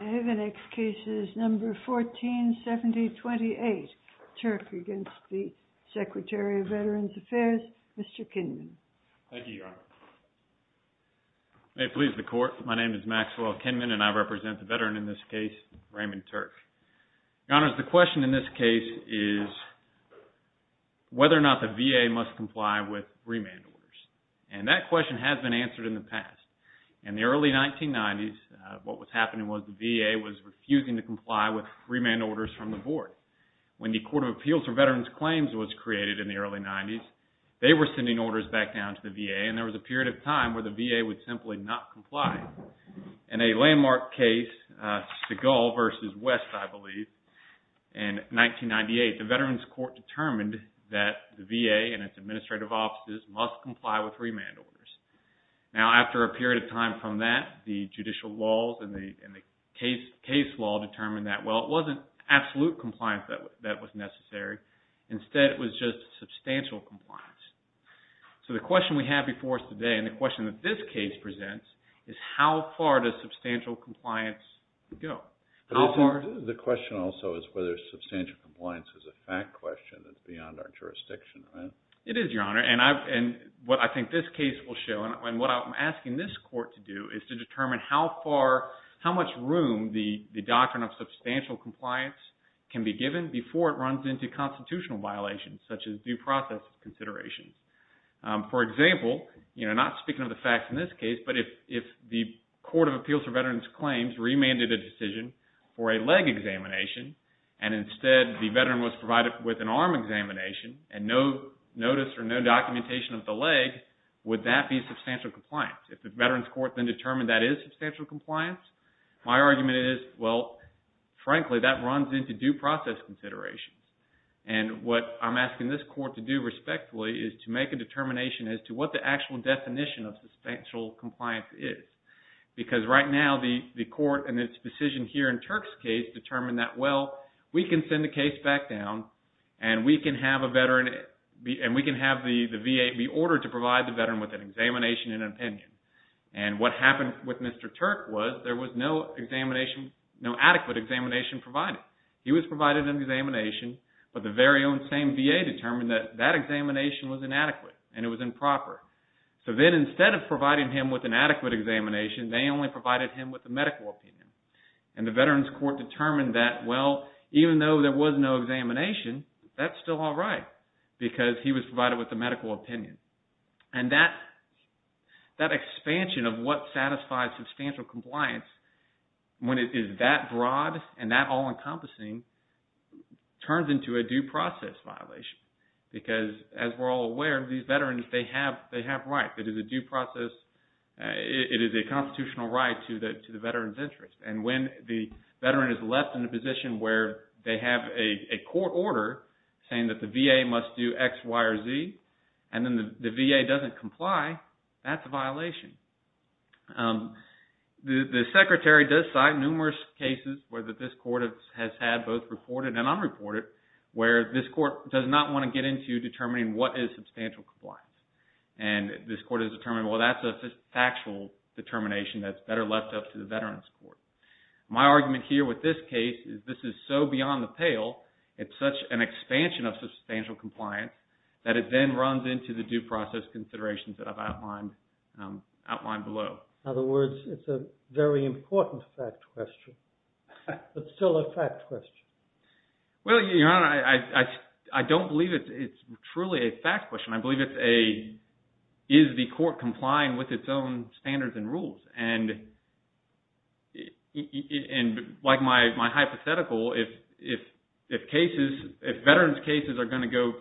The next case is number 147028, Turk against the Secretary of Veterans Affairs, Mr. Kinman. Thank you, Your Honor. May it please the Court, my name is Maxwell Kinman and I represent the veteran in this case, Raymond Turk. Your Honor, the question in this case is whether or not the VA must comply with remand orders. And that question has been answered in the past. In the early 1990s, what was happening was the VA was refusing to comply with remand orders from the board. When the Court of Appeals for Veterans Claims was created in the early 90s, they were sending orders back down to the VA and there was a period of time where the VA would simply not comply. In a landmark case, Seagull v. West, I believe, in 1998, the Veterans Court determined that the VA and its administrative offices must comply with remand orders. Now, after a period of time from that, the judicial laws and the case law determined that, well, it wasn't absolute compliance that was necessary. Instead, it was just substantial compliance. So the question we have before us today and the question that this case presents is how far does substantial compliance go? The question also is whether substantial compliance is a fact question that's beyond our jurisdiction. It is, Your Honor. And what I think this case will show and what I'm asking this court to do is to determine how much room the doctrine of substantial compliance can be given before it runs into constitutional violations such as due process considerations. For example, not speaking of the facts in this case, but if the Court of Appeals for Veterans Claims remanded a decision for a leg examination and instead the veteran was provided with an arm examination and no notice or no documentation of the leg, would that be substantial compliance? If the Veterans Court then determined that is substantial compliance, my argument is, well, frankly, that runs into due process considerations. And what I'm asking this court to do respectfully is to make a determination as to what the actual definition of substantial compliance is. Because right now, the court and its decision here in Turk's case determined that, well, we can send the case back down and we can have the VA be ordered to provide the veteran with an examination and an opinion. And what happened with Mr. Turk was there was no adequate examination provided. He was provided an examination, but the very own same VA determined that that examination was inadequate and it was improper. So then instead of providing him with an adequate examination, they only provided him with a medical opinion. And the Veterans Court determined that, well, even though there was no examination, that's still all right because he was provided with a medical opinion. And that expansion of what satisfies substantial compliance when it is that broad and that all-encompassing turns into a due process violation. Because as we're all aware, these veterans, they have rights. It is a due process. It is a constitutional right to the veteran's interest. And when the veteran is left in a position where they have a court order saying that the VA must do X, Y, or Z, and then the VA doesn't comply, that's a violation. The Secretary does cite numerous cases where this court has had both reported and unreported where this court does not want to get into determining what is substantial compliance. And this court has determined, well, that's a factual determination that's better left up to the Veterans Court. My argument here with this case is this is so beyond the pale, it's such an expansion of substantial compliance that it then runs into the due process considerations that I've outlined below. In other words, it's a very important fact question, but still a fact question. Well, Your Honor, I don't believe it's truly a fact question. I believe it's a, is the court complying with its own standards and rules? And like my hypothetical, if cases, if veterans' cases are going to go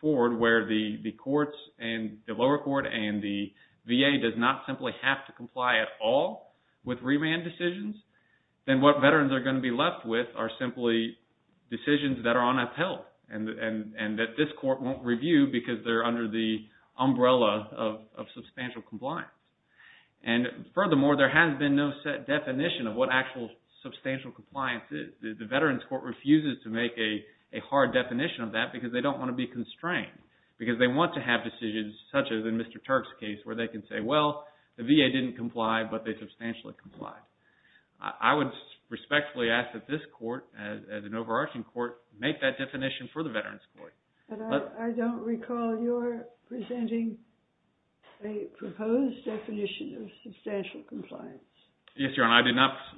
forward where the courts and the lower court and the VA does not simply have to comply at all with remand decisions, then what veterans are going to be left with are simply decisions that are on a pill and that this court won't review because they're under the umbrella of substantial compliance. And furthermore, there has been no set definition of what actual substantial compliance is. The Veterans Court refuses to make a hard definition of that because they don't want to be constrained, because they want to have decisions such as in Mr. Turk's case where they can say, well, the VA didn't comply, but they substantially complied. I would respectfully ask that this court, as an overarching court, make that definition for the Veterans Court. I don't recall your presenting a proposed definition of substantial compliance. Yes, Your Honor.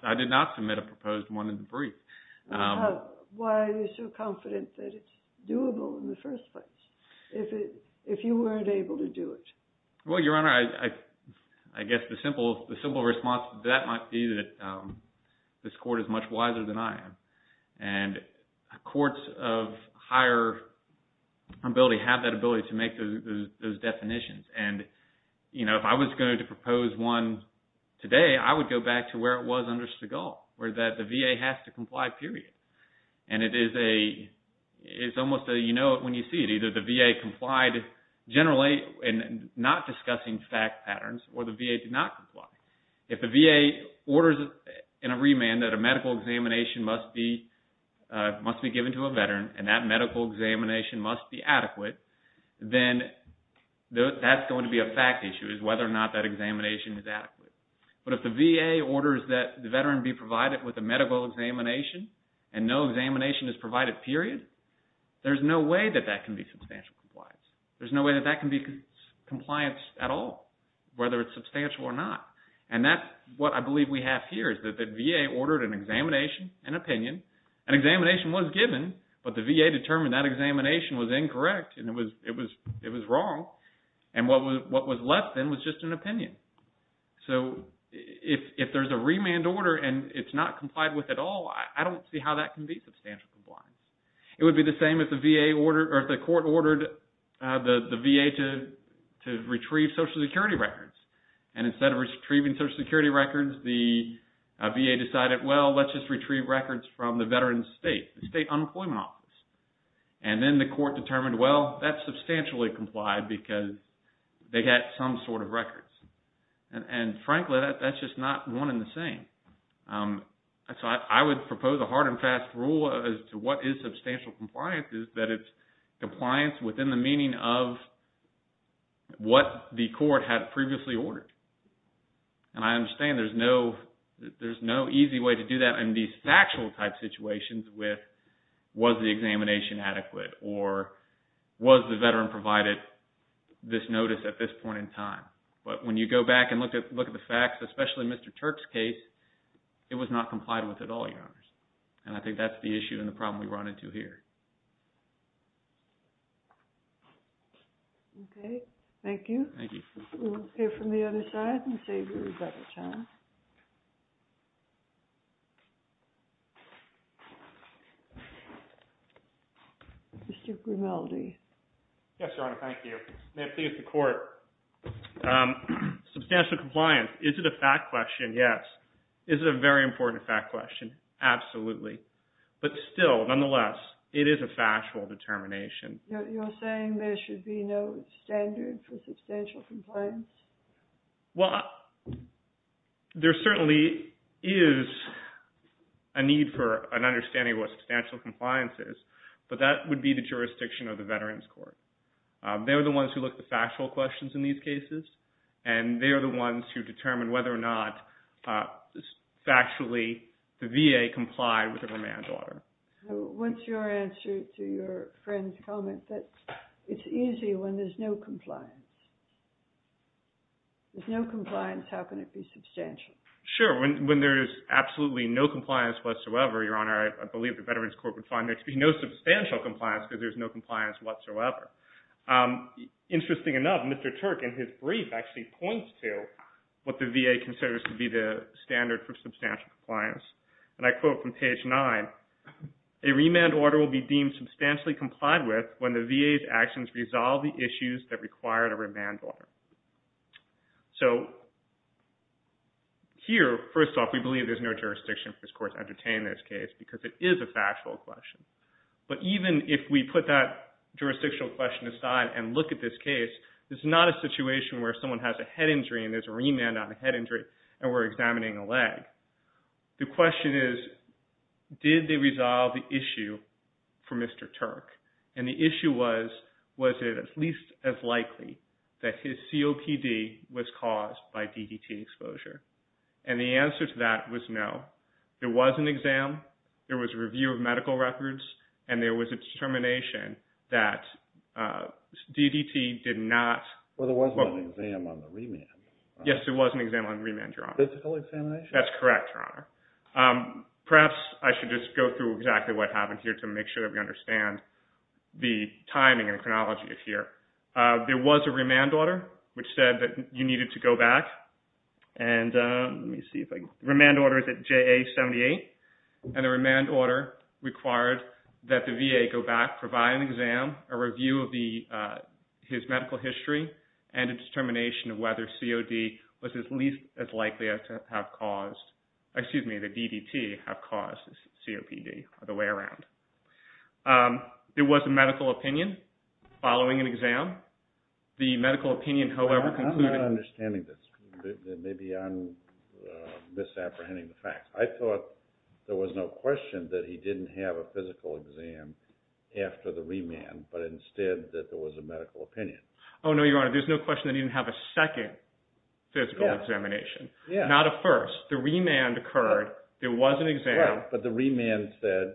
I did not submit a proposed one in the brief. Why are you so confident that it's doable in the first place if you weren't able to do it? Well, Your Honor, I guess the simple response to that might be that this court is much wiser than I am. And courts of higher ability have that ability to make those definitions. And, you know, if I was going to propose one today, I would go back to where it was under Segal, where the VA has to comply, period. And it is almost a you know it when you see it. Either the VA complied generally and not discussing fact patterns or the VA did not comply. If the VA orders in a remand that a medical examination must be given to a veteran and that medical examination must be adequate, then that's going to be a fact issue is whether or not that examination is adequate. But if the VA orders that the veteran be provided with a medical examination and no examination is provided, period, there's no way that that can be substantial compliance. There's no way that that can be compliance at all, whether it's substantial or not. And that's what I believe we have here is that the VA ordered an examination, an opinion. An examination was given, but the VA determined that examination was incorrect and it was wrong. And what was left then was just an opinion. So, if there's a remand order and it's not complied with at all, I don't see how that can be substantial compliance. It would be the same if the court ordered the VA to retrieve Social Security records. And instead of retrieving Social Security records, the VA decided, well, let's just retrieve records from the veteran's state, the State Unemployment Office. And then the court determined, well, that's substantially complied because they had some sort of records. And frankly, that's just not one and the same. And so, I would propose a hard and fast rule as to what is substantial compliance is that it's compliance within the meaning of what the court had previously ordered. And I understand there's no easy way to do that in these factual type situations with was the examination adequate or was the veteran provided this notice at this point in time. But when you go back and look at the Turk's case, it was not complied with at all, Your Honors. And I think that's the issue and the problem we run into here. Okay. Thank you. Thank you. We will go from the other side and save you a better time. Mr. Grimaldi. Yes, Your Honor. Thank you. May it please the court. Substantial compliance, is it a fact question? Yes. Is it a very important fact question? Absolutely. But still, nonetheless, it is a factual determination. You're saying there should be no standard for substantial compliance? Well, there certainly is a need for an understanding of what substantial compliance is, but that would be the jurisdiction of the Veterans Court. They're the ones who look at the factual questions in these cases, and they are the ones who determine whether or not factually the VA complied with the command order. What's your answer to your friend's comment that it's easy when there's no compliance? If there's no compliance, how can it be substantial? Sure. When there's absolutely no compliance whatsoever, Your Honor, I believe the Veterans Court would find there to be no substantial compliance because there's no compliance whatsoever. Interesting enough, Mr. Turk, in his brief, actually points to what the VA considers to be the standard for substantial compliance. I quote from page nine, a remand order will be deemed substantially complied with when the VA's actions resolve the issues that require a remand order. Here, first off, we believe there's no jurisdiction for this court to entertain this case because it is a factual question. But even if we put that jurisdictional question aside and look at this case, it's not a situation where someone has a head injury and there's a remand on a head injury and we're examining a leg. The question is, did they resolve the issue for Mr. Turk? The issue was, was it at least as likely that his COPD was caused by DDT exposure? And the answer to that was no. There was an exam, there was a review of medical records, and there was a determination that DDT did not... Well, there wasn't an exam on the remand. Yes, there was an exam on remand, Your Honor. Physical examination? That's correct, Your Honor. Perhaps I should just go through exactly what happened here to make sure that we understand the timing and chronology of here. There was a remand order which said that you needed to go back. And let me see if I... Remand order is at JA78. And the remand order required that the VA go back, provide an exam, a review of his medical history, and a determination of whether COD was at least as likely to have caused... Excuse me, the DDT have caused COPD or the way around. There was a medical opinion following an exam. The medical opinion, however, concluded... I'm not understanding this. Maybe I'm misapprehending the facts. I thought there was no question that he didn't have a physical exam after the remand, but instead that there was a medical opinion. Oh, no, Your Honor. There's no question that he didn't have a second physical examination. Not a first. The remand occurred. There was an exam. But the remand said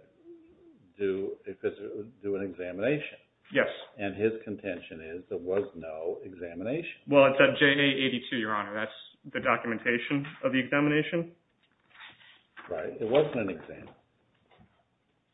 do an examination. Yes. And his contention is there was no examination. Well, it's at JA82, Your Honor. That's the documentation of the examination. Right. It wasn't an exam.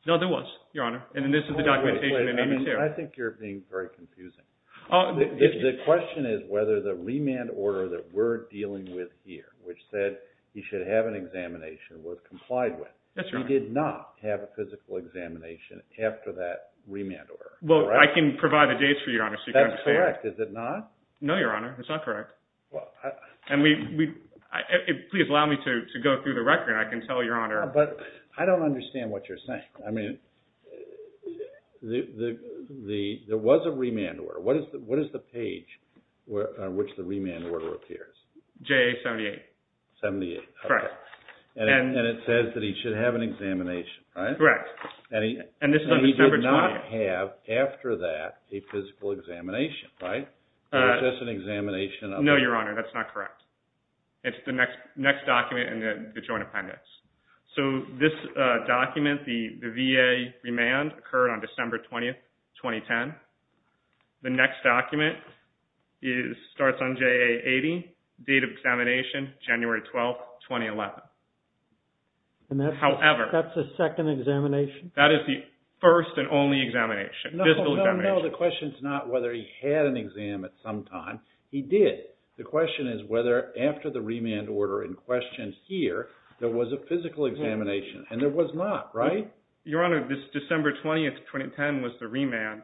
No, there was, Your Honor. And this is the documentation in 82. I think you're being very confusing. The question is whether the remand order that we're dealing with here, which said he should have an examination, was complied with. Yes, Your Honor. He did not have a physical examination after that remand order. Well, I can provide the dates for you, Your Honor, so you can understand. That's correct. Is it not? No, Your Honor. It's not correct. Please allow me to go through the record. I can tell Your Honor... But I don't understand what you're saying. I mean, there was a remand order. What is the page on which the remand order appears? JA78. 78. Correct. And it says that he should have an examination, right? Correct. And he did not have after that a physical examination, right? It's just an examination of... No, Your Honor. That's not correct. It's the next document in the Joint Appendix. So this document, the VA remand, occurred on December 20, 2010. The next document is, starts on JA80, date of examination, January 12, 2011. However... That's the second examination? That is the first and only examination, physical examination. No, no, no. The question is not whether he had an exam at some time. He did. The question is whether after the remand order in question here, there was a physical examination. And there was not, right? Your Honor, this December 20, 2010 was the remand,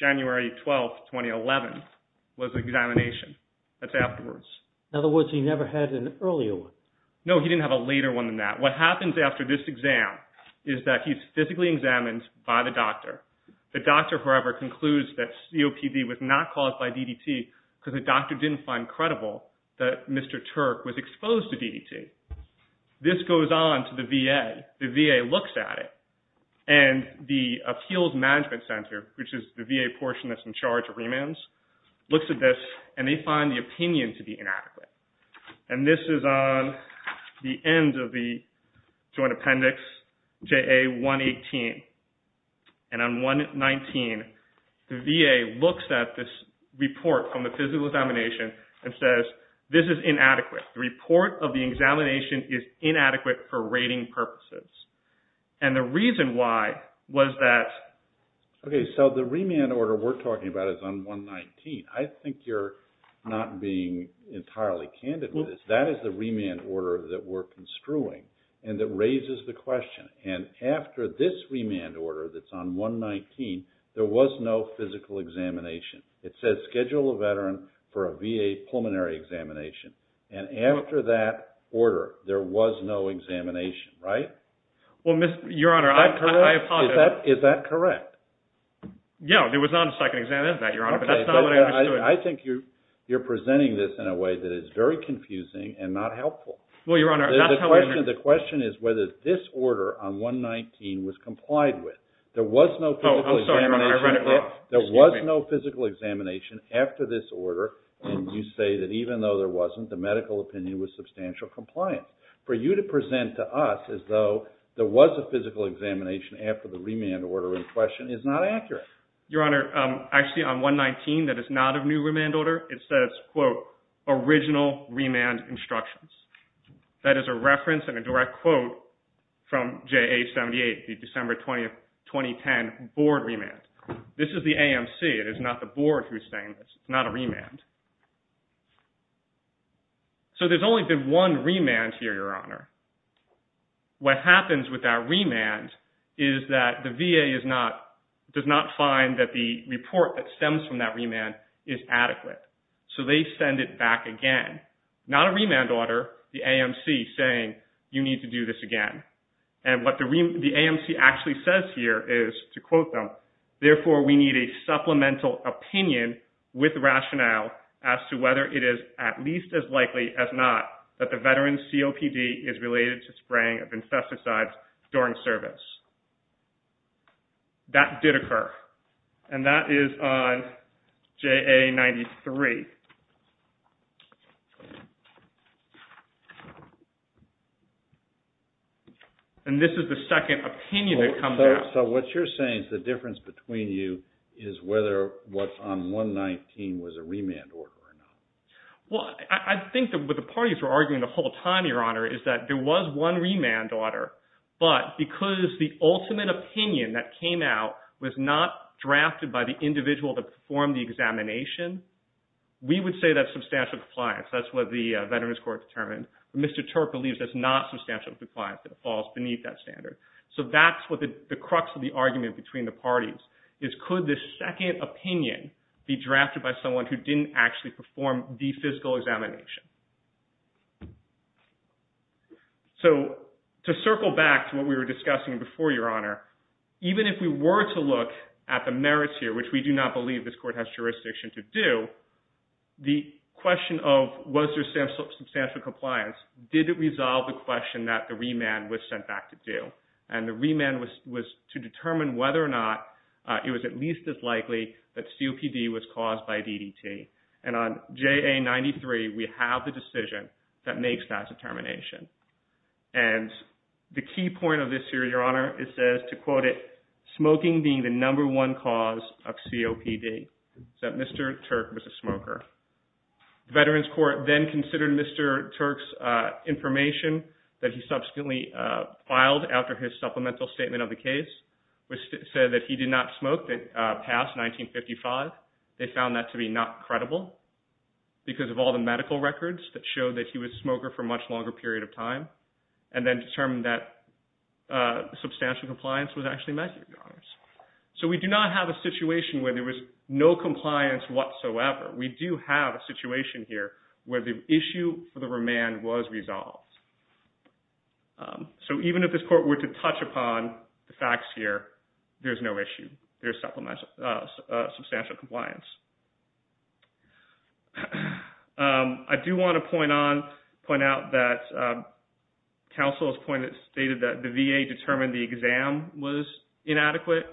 January 12, 2011 was the examination. That's afterwards. In other words, he never had an earlier one? No, he didn't have a later one than that. What happens after this exam is that he's physically examined by the doctor. The doctor, however, concludes that COPD was not caused by DDT because the doctor didn't find credible that Mr. Turk was exposed to DDT. This goes on to the VA. The VA looks at it. And the Appeals Management Center, which is the VA portion that's in charge of remands, looks at this and they find the opinion to be inadequate. And this is on the end of the joint appendix, JA118. And on 119, the VA looks at this report from the physical examination and says, this is inadequate. The report of the examination is inadequate for rating purposes. And the reason why was that... Okay. So the remand order we're talking about is on 119. I think you're not being entirely candid with this. That is the remand order that we're construing and that raises the question. And after this remand order that's on 119, there was no physical examination. It says schedule a veteran for a VA pulmonary examination. And after that order, there was no examination, right? Well, Your Honor, I apologize. Is that correct? Yeah. There was not a second exam in that, Your Honor, but that's not what I understood. I think you're presenting this in a way that is very confusing and not helpful. Well, Your Honor, that's how we... The question is whether this order on 119 was complied with. There was no physical examination. Oh, I'm sorry, Your Honor. I read it wrong. Excuse me. There was no physical examination after this order. And you say that even though there wasn't, the medical opinion was substantial compliance. For you to present to us as though there was a physical examination after the remand order in question is not accurate. Your Honor, actually on 119, that is not a new remand order. It says, quote, original remand instructions. That is a reference and a direct quote from JA78, the December 20, 2010 board remand. This is the AMC. It is not the board who's saying this. It's not a remand here, Your Honor. What happens with that remand is that the VA does not find that the report that stems from that remand is adequate. So they send it back again. Not a remand order, the AMC saying, you need to do this again. And what the AMC actually says here is, to quote them, therefore, we need a supplemental opinion with rationale as to whether it is at least as likely as not that the veteran's COPD is related to spraying of infesticides during service. That did occur. And that is on JA93. And this is the second opinion that comes out. So what you're saying is the difference between you is whether what's on 119 was a remand order or not. Well, I think that what the parties were arguing the whole time, Your Honor, is that there was one remand order. But because the ultimate opinion that came out was not drafted by the individual that performed the examination, we would say that's substantial compliance. That's what the Veterans Court determined. Mr. Turk believes that's not substantial compliance, that it falls beneath that standard. So that's what the crux of the argument between the parties is, could this second opinion be drafted by someone who didn't actually perform the physical examination? So to circle back to what we were discussing before, Your Honor, even if we were to look at the merits here, which we do not believe this court has jurisdiction to do, the question of was there substantial compliance, did it resolve the question that the remand was it was at least as likely that COPD was caused by DDT? And on JA93, we have the decision that makes that determination. And the key point of this here, Your Honor, it says, to quote it, smoking being the number one cause of COPD, that Mr. Turk was a smoker. Veterans Court then considered Mr. Turk's information that he subsequently filed after his supplemental statement of the case, which said that he did not smoke past 1955. They found that to be not credible because of all the medical records that showed that he was a smoker for a much longer period of time, and then determined that substantial compliance was actually met. So we do not have a situation where there was no compliance whatsoever. We do have a situation here where the issue for the remand was resolved. So even if this court were to touch upon the facts here, there's no issue. There's substantial compliance. I do want to point out that counsel's point that stated that the VA determined the exam was inadequate.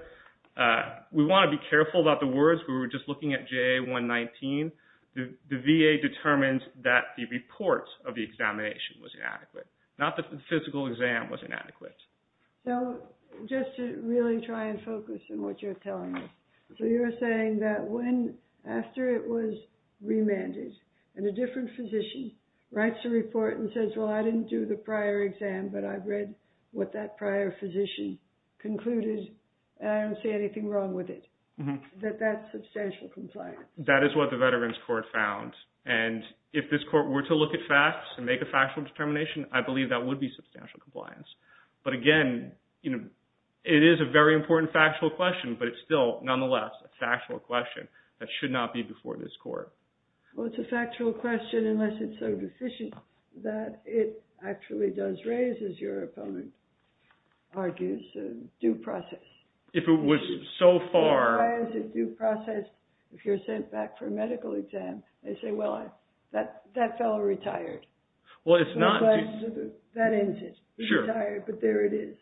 We want to be careful about the words. We were just looking at JA119. The VA determined that the report of the examination was inadequate, not that the physical exam was inadequate. So just to really try and focus on what you're telling us. So you're saying that when, after it was remanded, and a different physician writes a report and says, well, I didn't do the prior exam, but I've read what that prior physician concluded, and I don't see anything wrong with it, that that's substantial compliance. That is what the Veterans Court found. And if this court were to look at facts and make a factual determination, I believe that would be substantial compliance. But again, it is a very important factual question, but it's still, nonetheless, a factual question that should not be before this court. Well, it's a factual question unless it's so deficient that it actually does raise, as your opponent argues, a due process. If it was so far... back for a medical exam, they say, well, that fellow retired. That ends it. Retired, but there it is.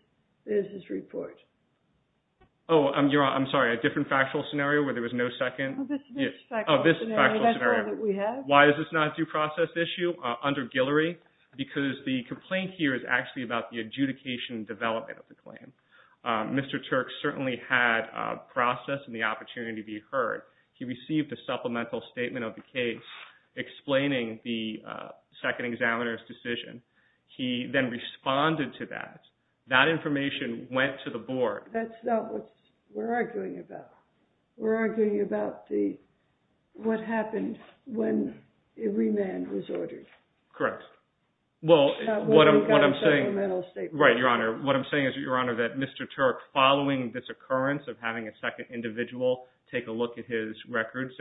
There's his report. Oh, I'm sorry, a different factual scenario where there was no second? Oh, this factual scenario. That's all that we have. Why is this not a due process issue under Guillory? Because the complaint here is actually about the adjudication development of the claim. Mr. Turk certainly had a process and the heard. He received a supplemental statement of the case explaining the second examiner's decision. He then responded to that. That information went to the board. That's not what we're arguing about. We're arguing about what happened when remand was ordered. Correct. Well, what I'm saying is, your honor, that Mr. Turk, following this occurrence of having a second individual take a look at his records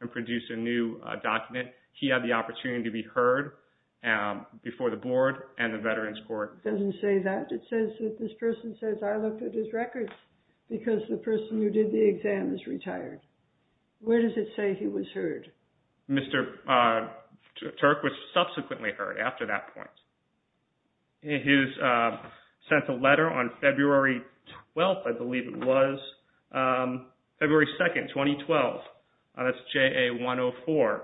and produce a new document, he had the opportunity to be heard before the board and the Veterans Court. It doesn't say that. It says that this person says, I looked at his records because the person who did the exam is retired. Where does it say he was heard? Mr. Turk was subsequently heard after that point. He sent a letter on February 12th, I believe it was. February 2nd, 2012. That's JA104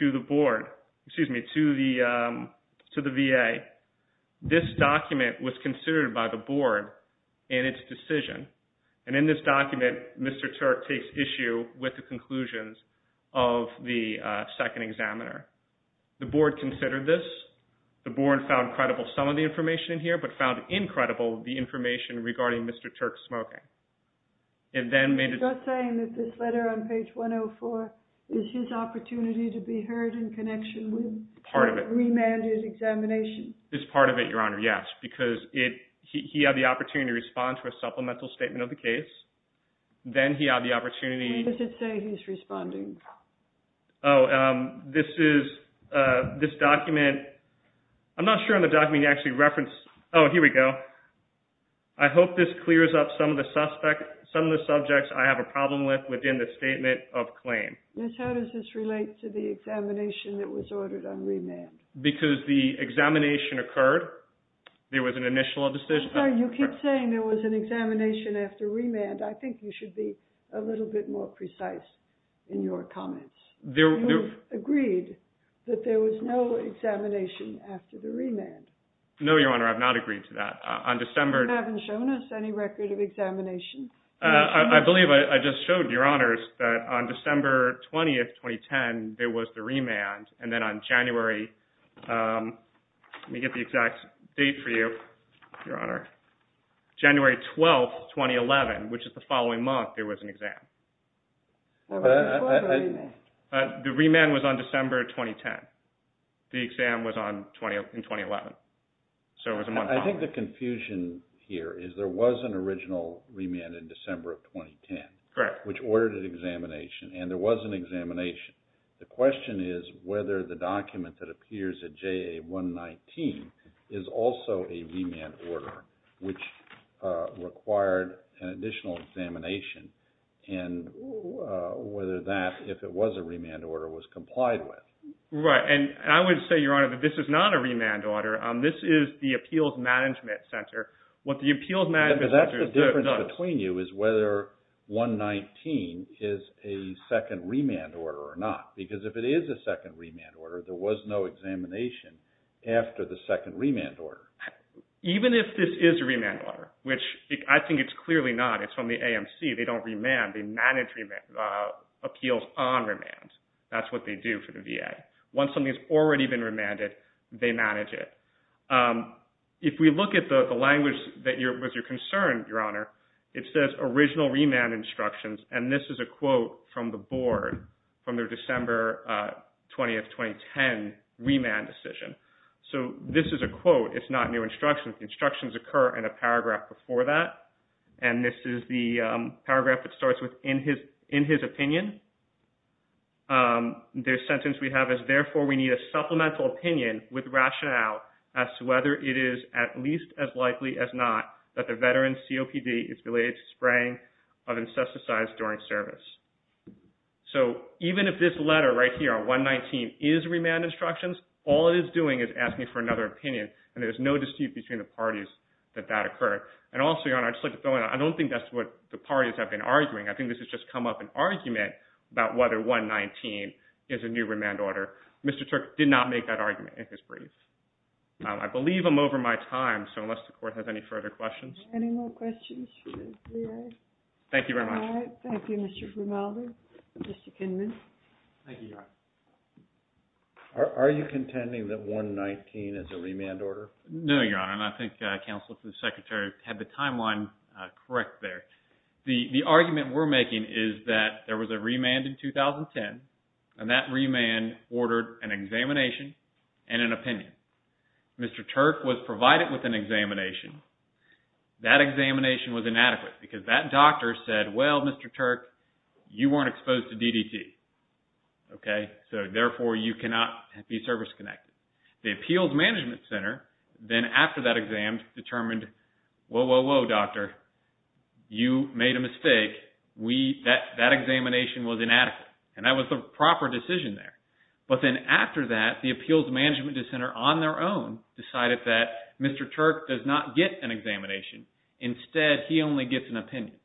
to the board. Excuse me, to the VA. This document was considered by the board in its decision. In this document, Mr. Turk takes issue with the conclusions of the second examiner. The board considered this. The board found credible some of the information in here, but found incredible the information regarding Mr. Turk's smoking. You're saying that this letter on page 104 is his opportunity to be heard in connection with remanded examination? It's part of it, your honor, yes. He had the opportunity to respond to a supplemental statement of the case. Then he had the opportunity... I'm not sure on the document you actually referenced... Oh, here we go. I hope this clears up some of the subjects I have a problem with within the statement of claim. Miss, how does this relate to the examination that was ordered on remand? Because the examination occurred. There was an initial decision... Sorry, you keep saying there was an examination after remand. I think you should be a little bit more precise in your comments. You've agreed that there was no examination after the remand. No, your honor. I've not agreed to that. You haven't shown us any record of examination? I believe I just showed your honors that on December 20th, 2010, there was the remand. Then on January... Let me get the exact date for you, your honor. January 12th, 2011, which is the following month, there was an exam. The remand was on December 2010. The exam was in 2011. So it was a month... I think the confusion here is there was an original remand in December of 2010, which ordered an examination, and there was an examination. The question is whether the which required an additional examination and whether that, if it was a remand order, was complied with. Right. And I would say, your honor, that this is not a remand order. This is the Appeals Management Center. What the Appeals Management Center does... But that's the difference between you is whether 119 is a second remand order or not. Because if it is a second remand order, there was no examination after the second remand order. Even if this is a remand order, which I think it's clearly not. It's from the AMC. They don't remand. They manage appeals on remands. That's what they do for the VA. Once something's already been remanded, they manage it. If we look at the language that was your concern, your honor, it says original remand instructions. And this is a quote from the board from their December 20th, 2010, remand decision. So this is a quote. It's not new instructions. Instructions occur in a paragraph before that. And this is the paragraph that starts with, in his opinion, the sentence we have is, therefore, we need a supplemental opinion with rationale as to whether it is at least as likely as not that the veteran COPD is related to spraying of is remand instructions. All it is doing is asking for another opinion. And there's no dispute between the parties that that occurred. And also, your honor, I don't think that's what the parties have been arguing. I think this has just come up an argument about whether 119 is a new remand order. Mr. Turk did not make that argument in his brief. I believe I'm over my time. So unless the court has any further questions. Any more questions? Thank you very much. Thank you, Mr. Grimaldi. Mr. Kinman. Are you contending that 119 is a remand order? No, your honor. And I think counsel to the secretary had the timeline correct there. The argument we're making is that there was a remand in 2010. And that remand ordered an examination and an opinion. Mr. Turk was provided with an opinion. That examination was inadequate because that doctor said, well, Mr. Turk, you weren't exposed to DDT. So therefore, you cannot be service connected. The appeals management center then after that exam determined, whoa, whoa, whoa, doctor, you made a mistake. That examination was inadequate. And that was the proper decision there. But then after that, the appeals management center on their own decided that Mr. Turk does not get an examination. Instead, he only gets an opinion.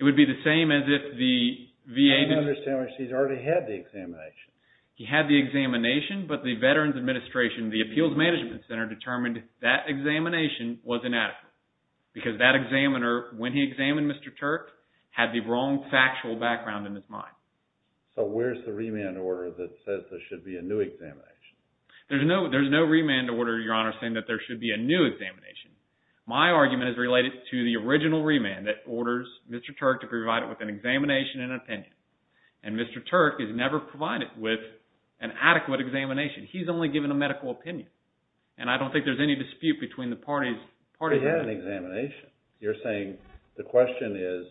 It would be the same as if the VA... I don't understand why she's already had the examination. He had the examination, but the Veterans Administration, the appeals management center determined that examination was inadequate because that examiner when he examined Mr. Turk had the wrong factual background in his mind. So where's the remand order that says there should be a new examination? There's no remand order, Your Honor, saying that there should be a new examination. My argument is related to the original remand that orders Mr. Turk to provide it with an examination and an opinion. And Mr. Turk is never provided with an adequate examination. He's only given a medical opinion. And I don't think there's any dispute between the parties. He had an examination. You're saying the question is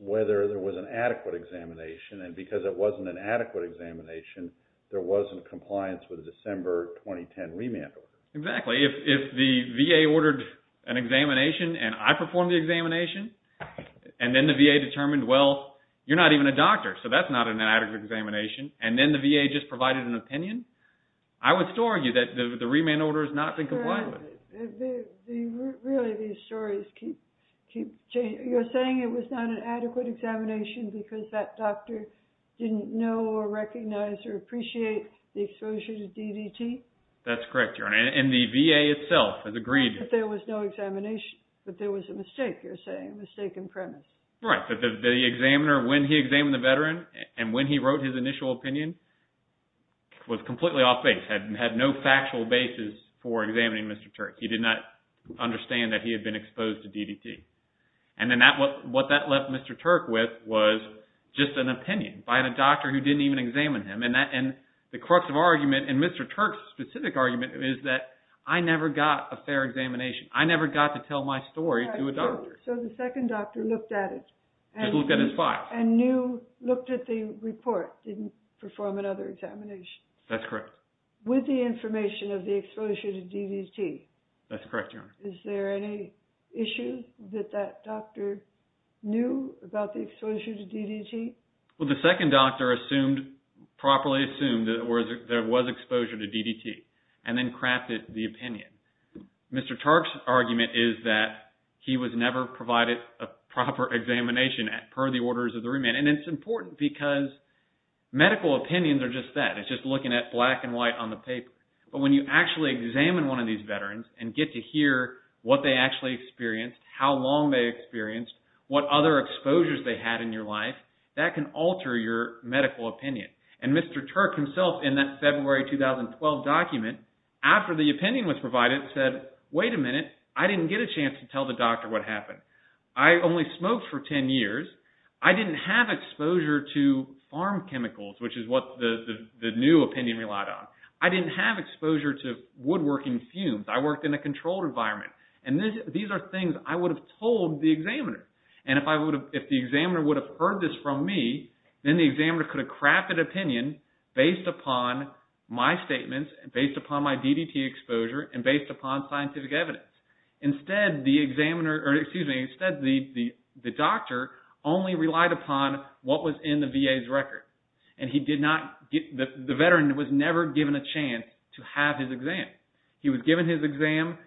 whether there was an adequate examination. And because it wasn't an adequate examination, there wasn't compliance with December 2010 remand order. Exactly. If the VA ordered an examination and I performed the examination, and then the VA determined, well, you're not even a doctor, so that's not an adequate examination. And then the VA just provided an opinion, I would still argue that the remand order has not been complied with. Really, these stories keep changing. You're saying it was not an adequate examination because that doctor didn't know or recognize or appreciate the exposure to DDT? That's correct, Your Honor. And the VA itself has agreed that there was no examination, but there was a mistake, you're saying, a mistake in premise. Right. But the examiner, when he examined the veteran and when he wrote his initial opinion, he was completely off base, had no factual basis for examining Mr. Turk. He did not understand that he had been exposed to DDT. And then what that left Mr. Turk with was just an opinion by a doctor who didn't even examine him. And the crux of argument in Mr. Turk's specific argument is that I never got a fair examination. I never got to tell my story to a doctor. So the second doctor looked at it. Just looked at his file. And knew, looked at the report, didn't perform another examination. That's correct. With the information of the exposure to DDT. That's correct, Your Honor. Is there any issue that that doctor knew about the exposure to DDT? Well, the second doctor assumed, properly assumed that there was exposure to DDT and then crafted the opinion. Mr. Turk's argument is that he was never provided a proper examination per the orders of the remand. And it's important because medical opinions are just that. It's just looking at black and white on the paper. But when you actually examine one of these veterans and get to hear what they actually experienced, how long they experienced, what other exposures they had in your life, that can alter your medical opinion. And Mr. Turk himself in that February 2012 document, after the opinion was provided, said, wait a minute, I didn't get a chance to tell the doctor what happened. I only smoked for 10 years. I didn't have exposure to farm chemicals, which is what the new opinion relied on. I didn't have exposure to woodworking fumes. I worked in a controlled environment. And these are things I would have told the examiner. And if I would have, if the examiner would have heard this from me, then the examiner could have crafted opinion based upon my statements and based upon my DDT exposure and based upon scientific evidence. Instead, the examiner, or excuse me, instead the doctor only relied upon what was in the VA's record. And he did not get, the veteran was never given a chance to have his exam. He was given his exam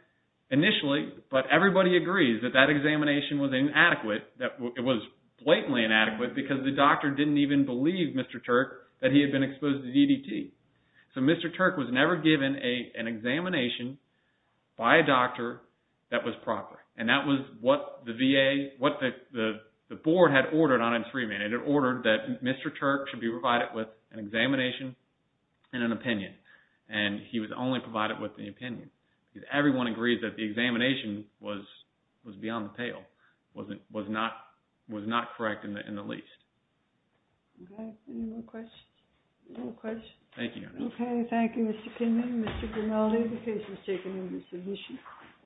initially, but everybody agrees that that examination was inadequate. That it was blatantly inadequate because the doctor didn't even believe Mr. Turk that he had been exposed to DDT. So Mr. Turk was never given an examination by a doctor that was proper. And that was what the VA, what the board had ordered on its remand. It had ordered that Mr. Turk should be provided with an examination and an opinion. And he was only provided with the opinion. Everyone agrees that the examination was beyond the pale, wasn't, was not, was not correct in the least. Okay. Any more questions? No questions? Thank you. Okay. Thank you, Mr. Kingman. Mr. Grimaldi, the case was taken into submission.